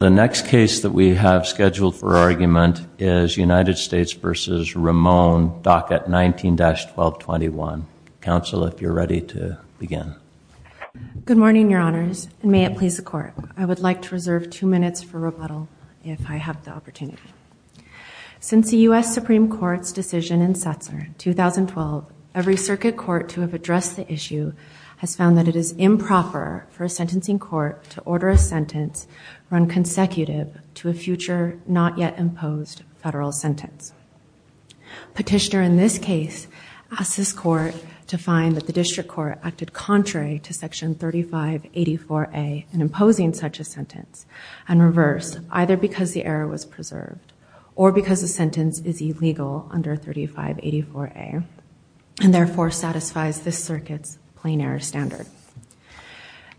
Dockett, 19-1221. Council, if you're ready to begin. Good morning, Your Honors, and may it please the Court. I would like to reserve two minutes for rebuttal, if I have the opportunity. Since the U.S. Supreme Court's decision in Setzer in 2012, every circuit court to have addressed the issue has found that it is improper for a sentencing court to order a sentence run consensuously on the basis of the executive to a future not yet imposed federal sentence. Petitioner in this case asked this Court to find that the District Court acted contrary to Section 3584A in imposing such a sentence, and reverse, either because the error was preserved or because the sentence is illegal under 3584A, and therefore satisfies this circuit's plain error standard.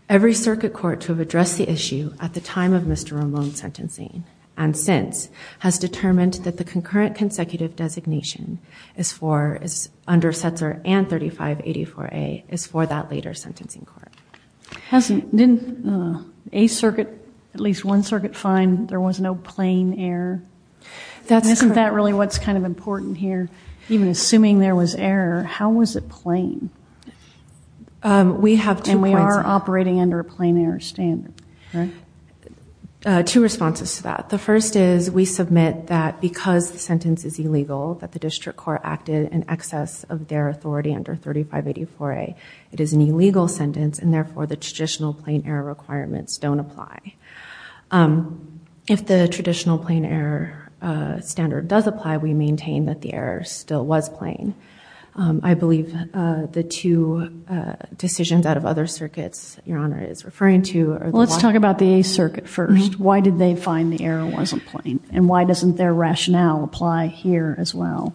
Every circuit court to have addressed the issue at the time of Mr. Ramon's sentencing, and since, has determined that the concurrent consecutive designation is for, under Setzer and 3584A, is for that later sentencing court. Hasn't, didn't a circuit, at least one circuit find there was no plain error? Isn't that really what's kind of important here? Even assuming there was error, how was it plain? We have two points. And we are operating under a plain error standard, right? Two responses to that. The first is, we submit that because the sentence is illegal, that the District Court acted in excess of their authority under 3584A, it is an illegal sentence, and therefore the traditional plain error requirements don't apply. If the traditional plain error standard does apply, we maintain that the error still was not plain. I believe the two decisions out of other circuits Your Honor is referring to are... Let's talk about the Eighth Circuit first. Why did they find the error wasn't plain? And why doesn't their rationale apply here as well?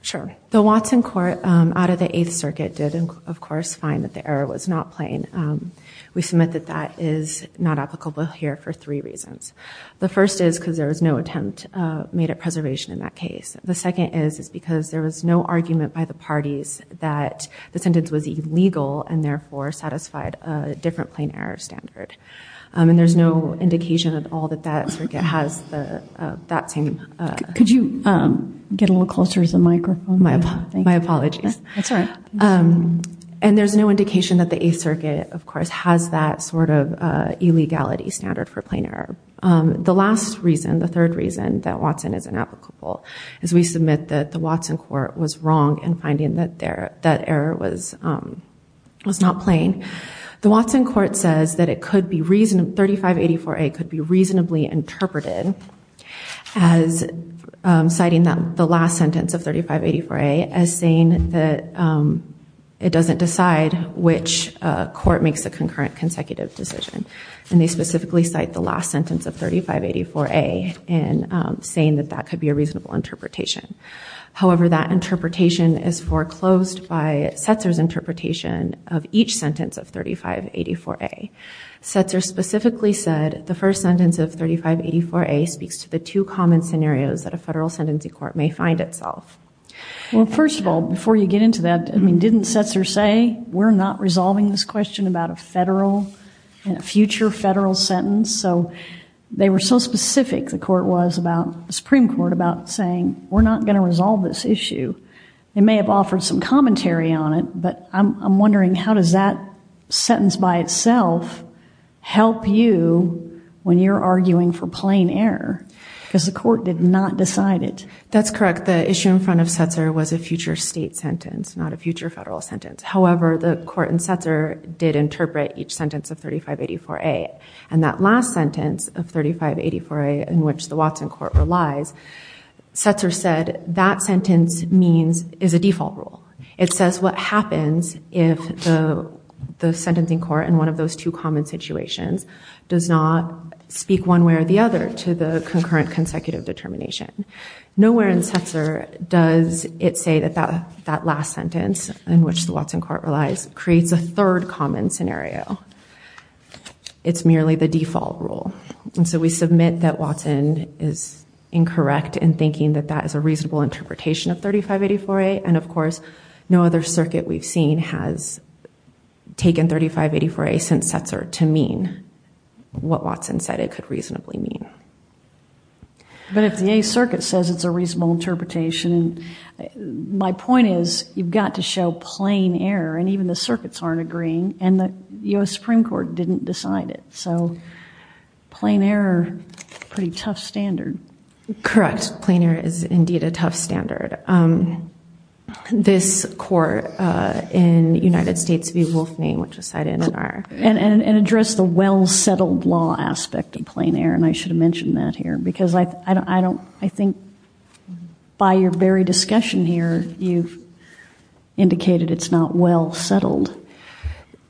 Sure. The Watson court out of the Eighth Circuit did, of course, find that the error was not plain. We submit that that is not applicable here for three reasons. The first is because there was no attempt made at preservation in that case. The second is because there was no argument by the parties that the sentence was illegal and therefore satisfied a different plain error standard. And there's no indication at all that that circuit has that same... Could you get a little closer to the microphone? My apologies. That's all right. And there's no indication that the Eighth Circuit, of course, has that sort of illegality standard for plain error. The last reason, the third reason that Watson is inapplicable is we submit that the Watson court was wrong in finding that that error was not plain. The Watson court says that 3584A could be reasonably interpreted as citing the last sentence of 3584A as saying that it doesn't decide which court makes a concurrent consecutive decision. And they specifically cite the last sentence of 3584A in saying that that could be a reasonable interpretation. However, that interpretation is foreclosed by Setzer's interpretation of each sentence of 3584A. Setzer specifically said the first sentence of 3584A speaks to the two common scenarios that a federal sentencing court may find itself. Well, first of all, before you get into that, didn't Setzer say, we're not resolving this question about a future federal sentence? So they were so specific, the Supreme Court, about saying we're not going to resolve this issue. They may have offered some commentary on it, but I'm wondering how does that sentence by itself help you when you're arguing for plain error because the court did not decide it. That's correct. The issue in front of Setzer was a future state sentence, not a future federal sentence. However, the court in Setzer did interpret each sentence of 3584A. And that last sentence of 3584A in which the Watson Court relies, Setzer said that sentence is a default rule. It says what happens if the sentencing court in one of those two common situations does not speak one way or the other to the concurrent consecutive determination. Nowhere in Setzer does it say that that last sentence in which the Watson Court relies creates a third common scenario. It's merely the default rule. And so we submit that Watson is incorrect in thinking that that is a reasonable interpretation of 3584A. And of course, no other circuit we've seen has taken 3584A since Setzer to mean what Watson said it could reasonably mean. But if the Eighth Circuit says it's a reasonable interpretation, my point is you've got to show plain error, and even the circuits aren't agreeing, and the U.S. Supreme Court didn't decide it. So plain error, pretty tough standard. Correct. Plain error is indeed a tough standard. This court in the United States v. Wolfman, which is cited in our... And address the well-settled law aspect of plain error, and I should have mentioned that here because I think by your very discussion here, you've indicated it's not well-settled.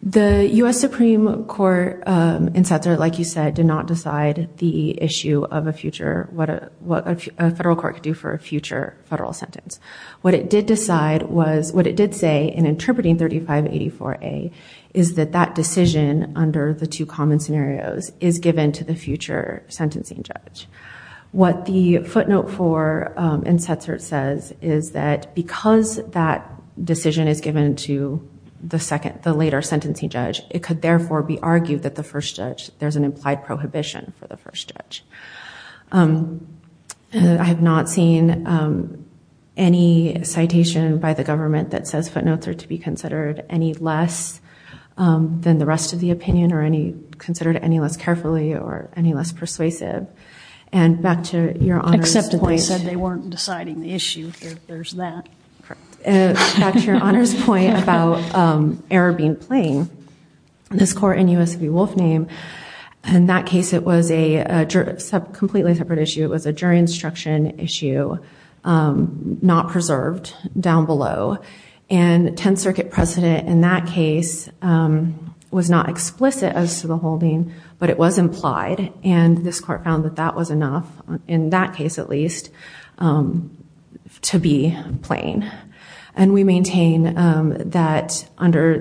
The U.S. Supreme Court in Setzer, like you said, did not decide the issue of a future, what a federal court could do for a future federal sentence. What it did decide was, what it did say in interpreting 3584A is that that decision under the two common scenarios is given to the future sentencing judge. What the footnote for in Setzer says is that because that decision is given to the second, the later sentencing judge, it could therefore be argued that the first judge, there's an implied prohibition for the first judge. I have not seen any citation by the government that says footnotes are to be considered any less than the rest of the opinion or considered any less carefully or any less persuasive. And back to your Honor's point. Except that they said they weren't deciding the issue. There's that. Correct. Back to your Honor's point about error being plain, this court in U.S. v. Wolfman, in that case it was a completely separate issue. It was a jury instruction issue, not preserved down below. And 10th Circuit precedent in that case was not explicit as to the holding, but it was implied. And this court found that that was enough, in that case at least, to be plain. And we maintain that under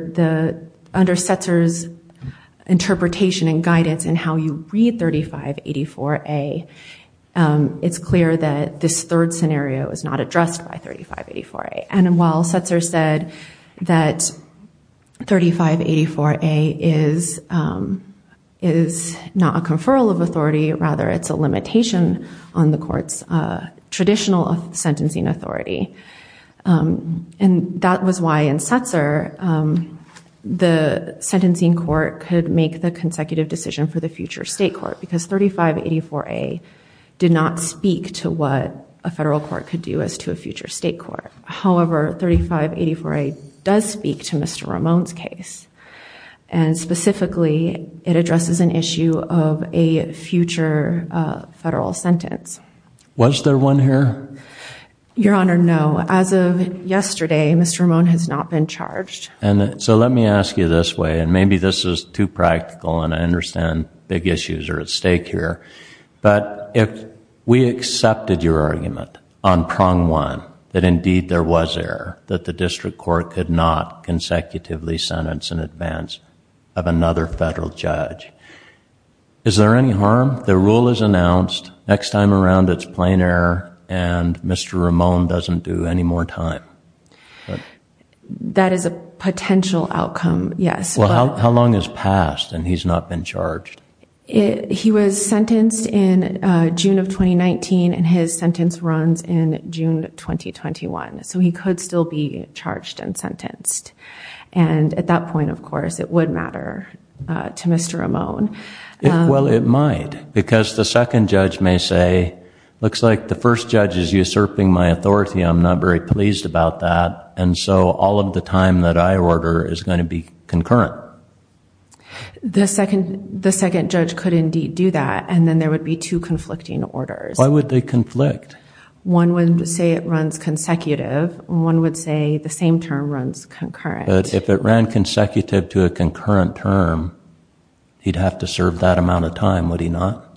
Setzer's interpretation and guidance in how you read 3584A, it's clear that this third scenario is not addressed by 3584A. And while Setzer said that 3584A is not a conferral of authority, rather it's a limitation on the court's traditional sentencing authority. And that was why in Setzer the sentencing court could make the consecutive decision for the future state court because 3584A did not speak to what a federal court could do as to a future state court. However, 3584A does speak to Mr. Ramon's case. And specifically it addresses an issue of a future federal sentence. Was there one here? Your Honor, no. As of yesterday, Mr. Ramon has not been charged. So let me ask you this way, and maybe this is too practical and I understand big issues are at stake here. But if we accepted your argument on prong one, that indeed there was error, that the district court could not consecutively sentence in advance of another federal judge. Is there any harm? The rule is announced, next time around it's plain error, and Mr. Ramon doesn't do any more time. That is a potential outcome, yes. Well, how long has passed and he's not been charged? He was sentenced in June of 2019, and his sentence runs in June 2021. So he could still be charged and sentenced. And at that point, of course, it would matter to Mr. Ramon. Well, it might, because the second judge may say, looks like the first judge is usurping my authority, I'm not very pleased about that, and so all of the time that I order is going to be concurrent. The second judge could indeed do that, and then there would be two conflicting orders. Why would they conflict? One would say it runs consecutive, and one would say the same term runs concurrent. But if it ran consecutive to a concurrent term, he'd have to serve that amount of time, would he not?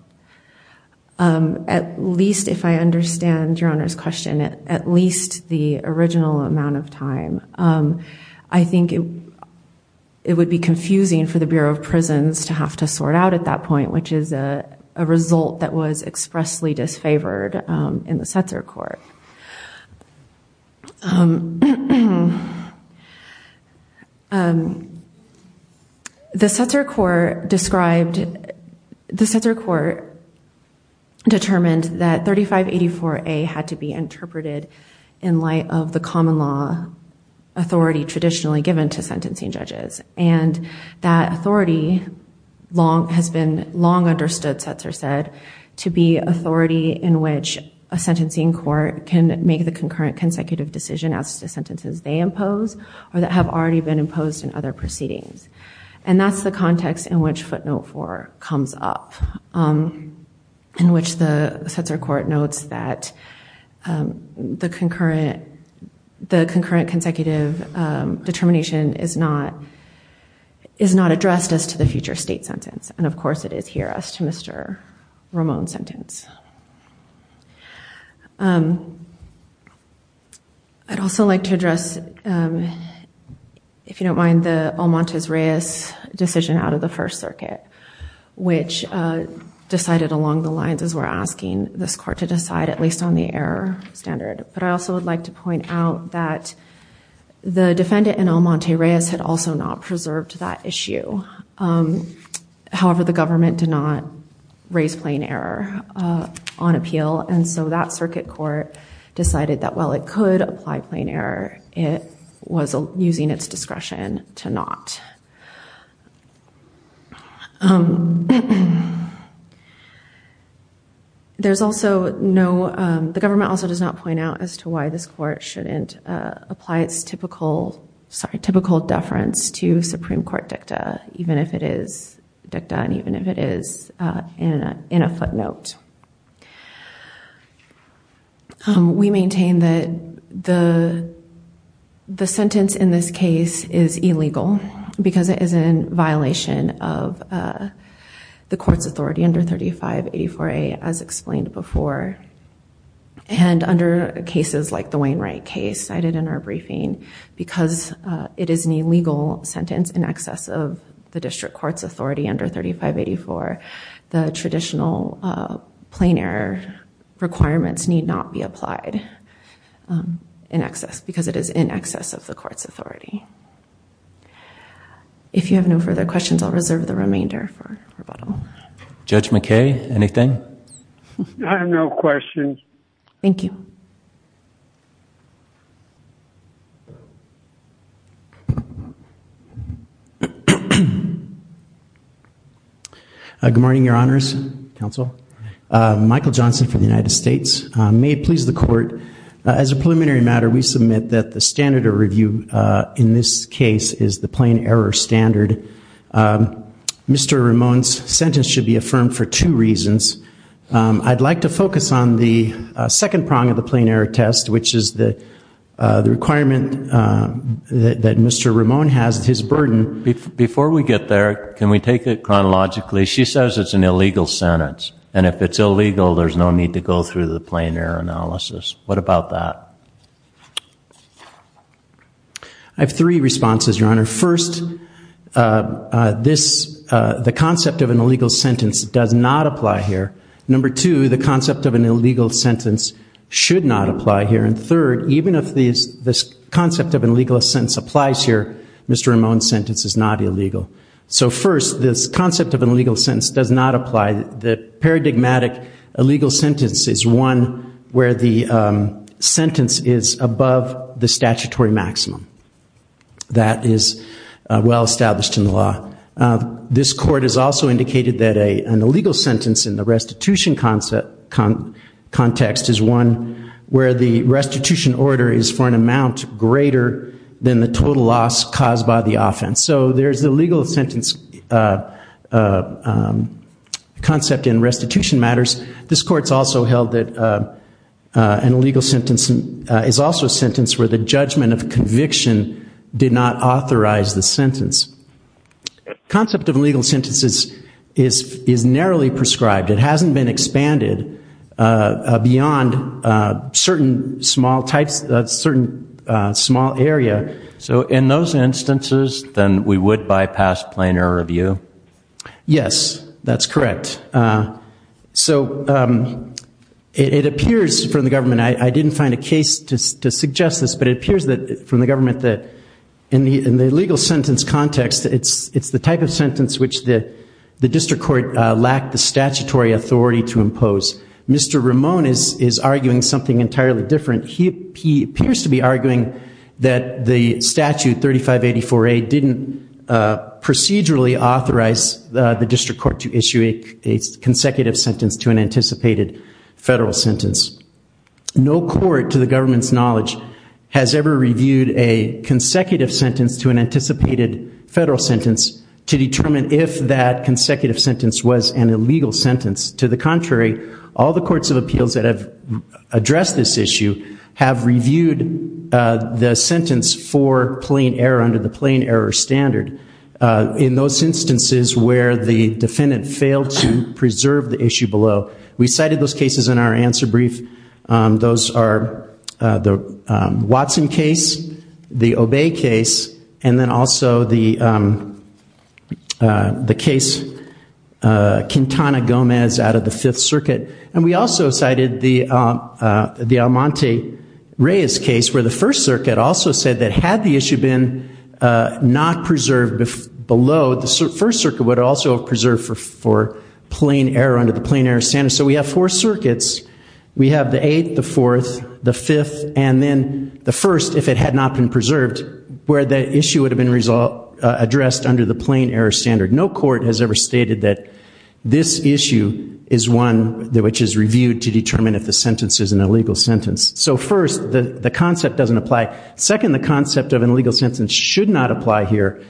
At least, if I understand Your Honor's question, at least the original amount of time. I think it would be confusing for the Bureau of Prisons to have to sort out at that point, which is a result that was expressly disfavored in the Setzer Court. The Setzer Court determined that 3584A had to be interpreted in light of the common law authority traditionally given to sentencing judges. And that authority has been long understood, Setzer said, to be authority in which a sentencing court can make the concurrent consecutive decision as to sentences they impose, or that have already been imposed in other proceedings. And that's the context in which footnote 4 comes up, in which the Setzer Court notes that the concurrent consecutive determination is not addressed as to the future state sentence. And of course, it is here as to Mr. Ramon's sentence. I'd also like to address, if you don't mind, the Almontez-Reyes decision out of the First Circuit, which decided along the lines as we're asking this court to decide, at least on the error standard. But I also would like to point out that the defendant in Almontez-Reyes had also not preserved that issue. However, the government did not raise plain error on appeal. And so that circuit court decided that while it could apply plain error, it was using its discretion to not. But there's also no, the government also does not point out as to why this court shouldn't apply its typical, sorry, typical deference to Supreme Court dicta, even if it is dicta, and even if it is in a footnote. We maintain that the sentence in this case is illegal because it is in violation of the court's authority under 3584A, as explained before. And under cases like the Wainwright case cited in our briefing, because it is an illegal sentence in excess of the district court's authority under 3584, the traditional plain error requirements need not be applied in excess, because it is in excess of the court's authority. If you have no further questions, I'll reserve the remainder for rebuttal. Judge McKay, anything? I have no questions. Thank you. Good morning, your honors, counsel. Michael Johnson from the United States. May it please the court, as a preliminary matter, we submit that the standard of review in this case is the plain error standard. Mr. Ramone's sentence should be affirmed for two reasons. I'd like to focus on the second prong of the plain error test, which is the requirement that Mr. Ramone has, his burden. Before we get there, can we take it chronologically? She says it's an illegal sentence. And if it's illegal, there's no need to go through the plain error analysis. What about that? I have three responses, your honor. First, the concept of an illegal sentence does not apply here. Number two, the concept of an illegal sentence should not apply here. And third, even if this concept of an illegal sentence applies here, Mr. Ramone's sentence is not illegal. So first, this concept of an illegal sentence does not apply. The paradigmatic illegal sentence is one where the sentence is above the statutory maximum. That is well established in the law. This court has also indicated that an illegal sentence in the restitution context is one where the restitution order is for an amount greater than the total loss caused by the offense. So there's the legal sentence concept in restitution matters. This court's also held that an illegal sentence is also a sentence where the judgment of conviction did not authorize the sentence. The concept of illegal sentences is narrowly prescribed. It hasn't been expanded beyond certain small types, certain small area. So in those instances, then we would bypass plainer review? Yes, that's correct. So it appears from the government, I didn't find a case to suggest this, but it appears from the government that in the legal sentence context, it's the type of sentence which the district court lacked the statutory authority to impose. Mr. Ramone is arguing something entirely different. He appears to be arguing that the statute 3584A didn't procedurally authorize the district court to issue a consecutive sentence to an anticipated federal sentence. No court, to the government's knowledge, has ever reviewed a consecutive sentence to an anticipated federal sentence to determine if that consecutive sentence was an illegal sentence. To the contrary, all the courts of appeals that have addressed this issue have reviewed the sentence for plain error under the plain error standard. In those instances where the defendant failed to preserve the issue below, we cited those cases in our answer brief. Those are the Watson case, the Obey case, and then also the case Quintana Gomez out of the Fifth Circuit. And we also cited the Almonte-Reyes case where the First Circuit also said that had the issue been not preserved below, the First Circuit would also have preserved for plain error under the plain error standard. So we have four circuits. We have the Eighth, the Fourth, the Fifth, and then the First, if it had not been preserved, where the issue would have been addressed under the plain error standard. No court has ever stated that this issue is one which is reviewed to determine if the sentence is an illegal sentence. So first, the concept doesn't apply. Second, the concept of an illegal sentence should not apply here.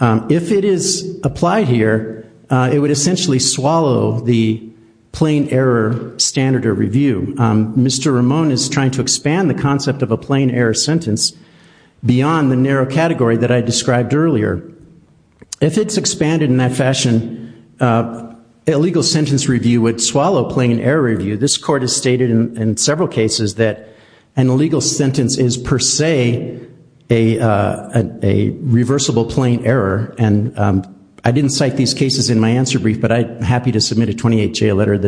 If it is applied here, it would essentially swallow the plain error standard or review. Mr. Ramon is trying to expand the concept of a plain error sentence beyond the narrow category that I described earlier. If it's expanded in that fashion, a legal sentence review would swallow plain error review. This court has stated in several cases that an illegal sentence is per se a reversible plain error. And I didn't cite these cases in my answer brief, but I'm happy to submit a 28-J letter.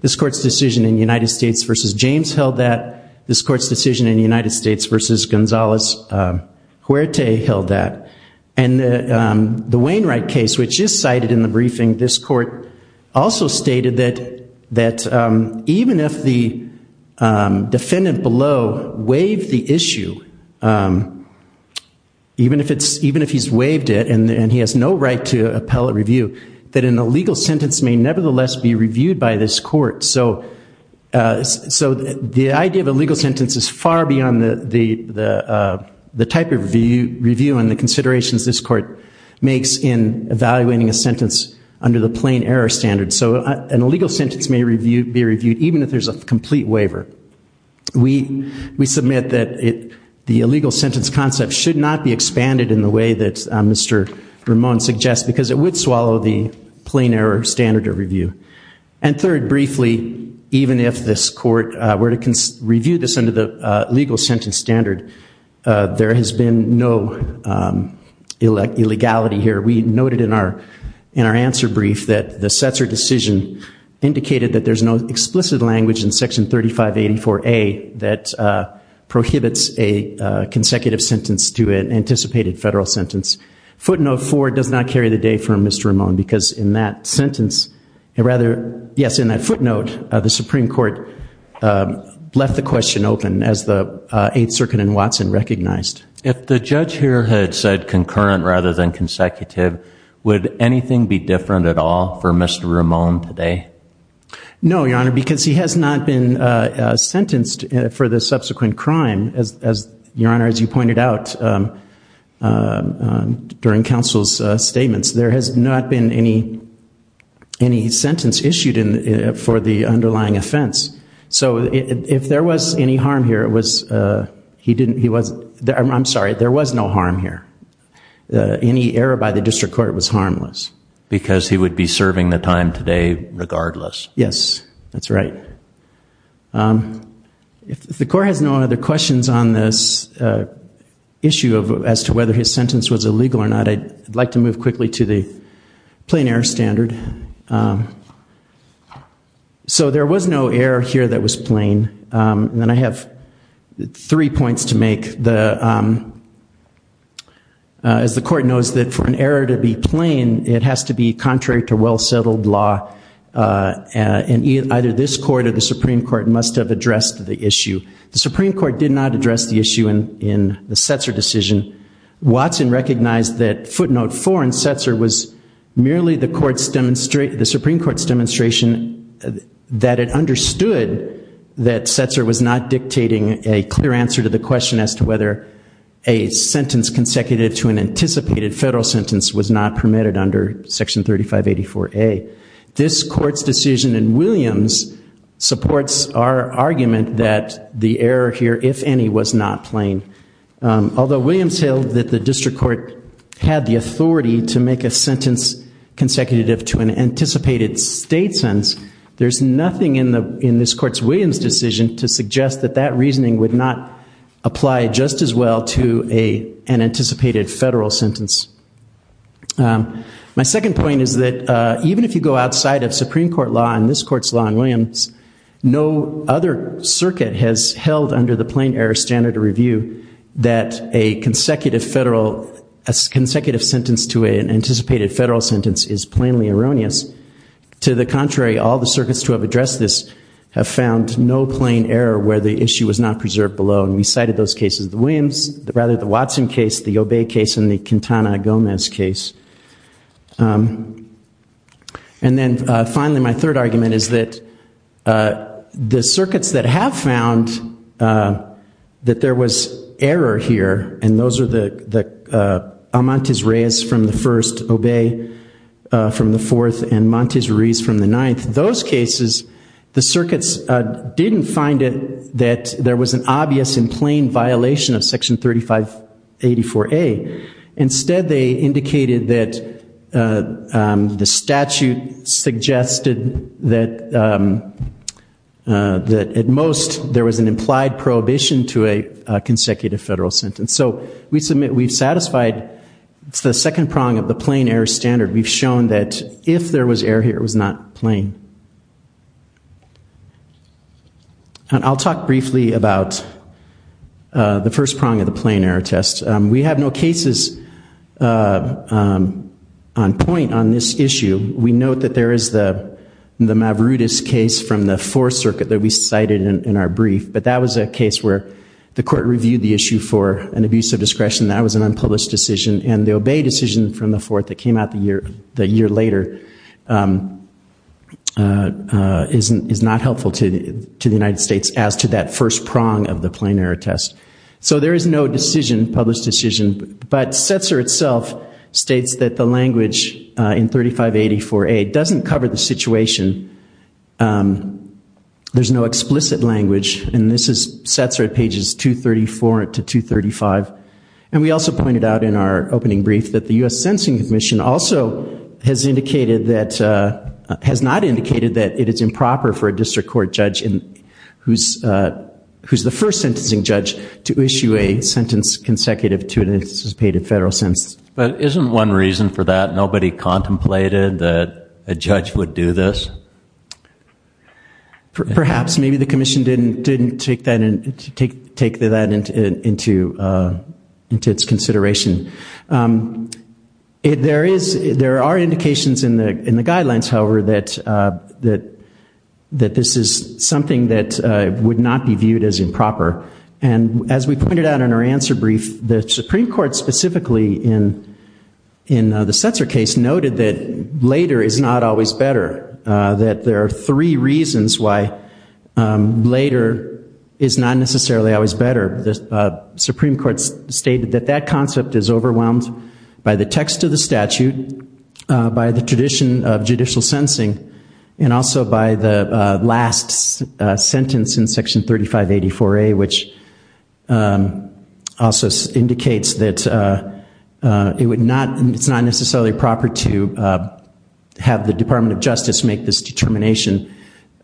This court's decision in the United States versus James held that. This court's decision in the United States versus Gonzalez Huerte held that. And the Wainwright case, which is cited in the briefing, this court also stated that even if the defendant below waived the issue, even if he's waived it and he has no right to appellate review, that an illegal sentence may nevertheless be reviewed by this court. So the idea of a legal sentence is far beyond the type of review and the considerations this court makes in evaluating a sentence under the plain error standard. So an illegal sentence may be reviewed even if there's a complete waiver. We submit that the illegal sentence concept should not be expanded in the way that Mr. Ramon suggests because it would swallow the plain error standard of review. And third, briefly, even if this court were to review this under the legal sentence standard, there has been no illegality here. We noted in our answer brief that the Setzer decision indicated that there's no explicit language in Section 3584A that prohibits a consecutive sentence to an anticipated federal sentence. Footnote 4 does not carry the day for Mr. Ramon because in that sentence, or rather, yes, in that footnote, the Supreme Court left the question open as the Eighth Circuit and Watson recognized. If the judge here had said concurrent rather than consecutive, would anything be different at all for Mr. Ramon today? No, Your Honor, because he has not been sentenced for the subsequent crime, Your Honor, as you pointed out during counsel's statements. There has not been any sentence issued for the underlying offense. So if there was any harm here, it was... I'm sorry, there was no harm here. Any error by the district court was harmless. Because he would be serving the time today regardless. Yes, that's right. If the Court has no other questions on this issue as to whether his sentence was illegal or not, I'd like to move quickly to the plain error standard. So there was no error here that was plain. And I have three points to make. As the Court knows that for an error to be plain, it has to be contrary to well-settled law, and either this Court or the Supreme Court must have addressed the issue. The Supreme Court did not address the issue in the Setzer decision. Watson recognized that footnote 4 in Setzer was merely the Supreme Court's demonstration that it understood that Setzer was not dictating a clear answer to the question as to whether a sentence consecutive to an anticipated federal sentence was not permitted under Section 3584A. This Court's decision in Williams supports our argument that the error here, if any, was not plain. Although Williams held that the District Court had the authority to make a sentence consecutive to an anticipated state sentence, there's nothing in this Court's Williams decision to suggest that that reasoning would not apply just as well to an anticipated federal sentence. My second point is that even if you go outside of Supreme Court law and this Court's law in Williams, no other circuit has held under the plain error standard to review that a consecutive federal, a consecutive sentence to an anticipated federal sentence is plainly erroneous. To the contrary, all the circuits to have addressed this have found no plain error where the issue was not preserved below. And we cited those cases, the Williams, rather the Watson case, the Obey case, and the Quintana Gomez case. And then finally, my third argument is that the circuits that have found that there was error here, and those are the Montes Reyes from the first, Obey from the fourth, and Montes Reyes from the ninth, those cases, the circuits didn't find it that there was an obvious and plain violation of Section 3584A. Instead, they indicated that the statute suggested that at most there was an implied prohibition to a consecutive federal sentence. So we've satisfied the second prong of the plain error standard. We've shown that if there was error here, it was not plain. And I'll talk briefly about the first prong of the plain error test. We have no cases on point on this issue. We note that there is the Mavrudis case from the fourth circuit that we cited in our brief, but that was a case where the court reviewed the issue for an abuse of discretion. That was an unpublished decision, and the Obey decision from the fourth that came out the year later is not helpful to the United States as to that first prong of the plain error test. So there is no decision, published decision, but Setzer itself states that the language in 3584A doesn't cover the situation. There's no explicit language, and this is Setzer at pages 234 to 235. And we also pointed out in our opening brief that the U.S. Sentencing Commission also has indicated that, has not indicated that it is improper for a district court judge who's the first sentencing judge to issue a sentence consecutive to an anticipated federal sentence. But isn't one reason for that? Nobody contemplated that a judge would do this? Perhaps. Maybe the commission didn't take that into its consideration. There are indications in the guidelines, however, that this is something that would not be viewed as improper. And as we pointed out in our answer brief, the Supreme Court specifically in the Setzer case noted that later is not always better, that there are three reasons why later is not necessarily always better. The Supreme Court stated that that concept is overwhelmed by the text of the statute, by the tradition of judicial sensing, and also by the last sentence in Section 3584A, which also indicates that it's not necessarily proper to have the Department of Justice make this determination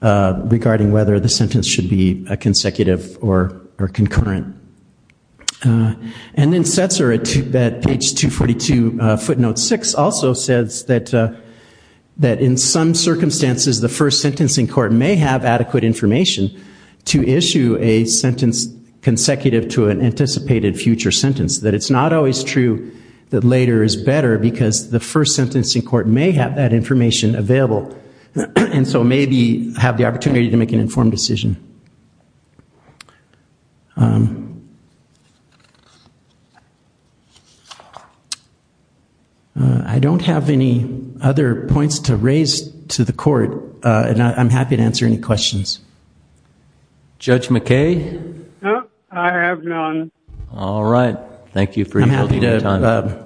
regarding whether the sentence should be consecutive or concurrent. And then Setzer at page 242, footnote 6, also says that in some circumstances the first sentencing court may have adequate information to issue a sentence consecutive to an anticipated future sentence, that it's not always true that later is better because the first sentencing court may have that information available and so maybe have the opportunity to make an informed decision. I don't have any other points to raise to the court, and I'm happy to answer any questions. Judge McKay? No, I have none. All right, thank you for your time. I'm happy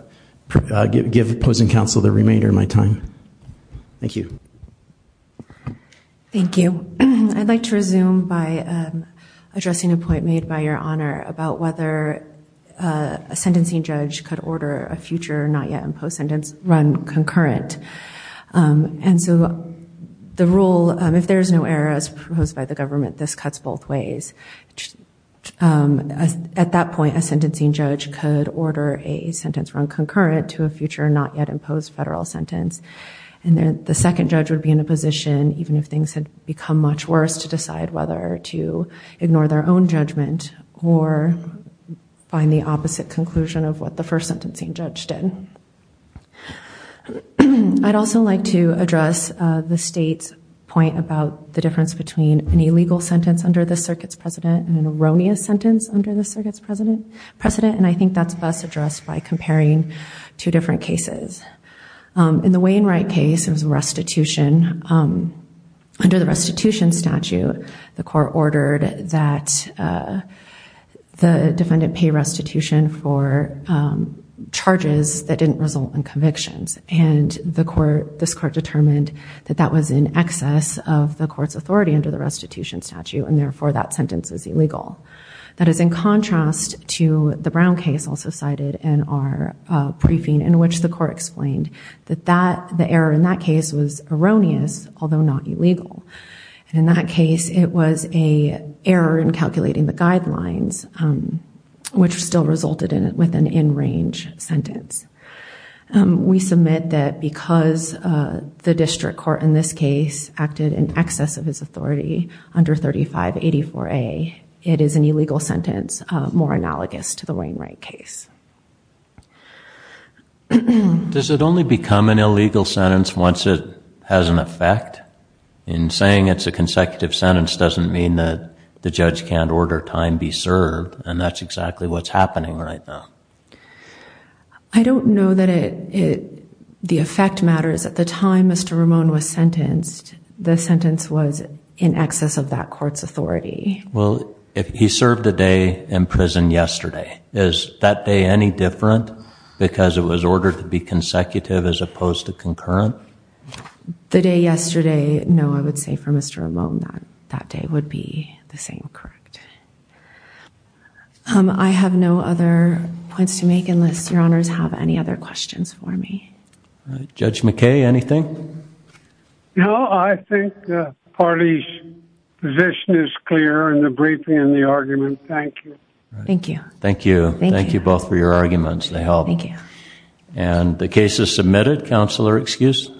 to give opposing counsel the remainder of my time. Thank you. Thank you. I'd like to resume by addressing a point made by Your Honor about whether a sentencing judge could order a future not-yet-imposed sentence run concurrent. And so the rule, if there is no error as proposed by the government, this cuts both ways. At that point, a sentencing judge could order a sentence run concurrent to a future not-yet-imposed federal sentence, and then the second judge would be in a position, even if things had become much worse, to decide whether to ignore their own judgment or find the opposite conclusion of what the first sentencing judge did. I'd also like to address the State's point about the difference between an illegal sentence under this Circuit's precedent and an erroneous sentence under this Circuit's precedent, and I think that's best addressed by comparing two different cases. In the Wainwright case, it was restitution. Under the restitution statute, the court ordered that the defendant pay restitution for charges that didn't result in convictions, and this court determined that that was in excess of the court's authority under the restitution statute, and therefore that sentence is illegal. That is in contrast to the Brown case, also cited in our briefing, in which the court explained that the error in that case was erroneous, although not illegal. And in that case, it was an error in calculating the guidelines, which still resulted with an in-range sentence. We submit that because the district court in this case acted in excess of his authority under 3584A, it is an illegal sentence more analogous to the Wainwright case. Does it only become an illegal sentence once it has an effect? In saying it's a consecutive sentence doesn't mean that the judge can't order time be served, and that's exactly what's happening right now. I don't know that the effect matters. At the time Mr. Ramone was sentenced, the sentence was in excess of that court's authority. Well, he served a day in prison yesterday. Is that day any different, because it was ordered to be consecutive as opposed to concurrent? The day yesterday, no, I would say for Mr. Ramone that that day would be the same, correct. I have no other points to make unless your honors have any other questions for me. Judge McKay, anything? No, I think the party's position is clear in the briefing and the argument. Thank you. Thank you. Thank you. Thank you both for your arguments. They help. Thank you. And the case is submitted. Counselor, excuse?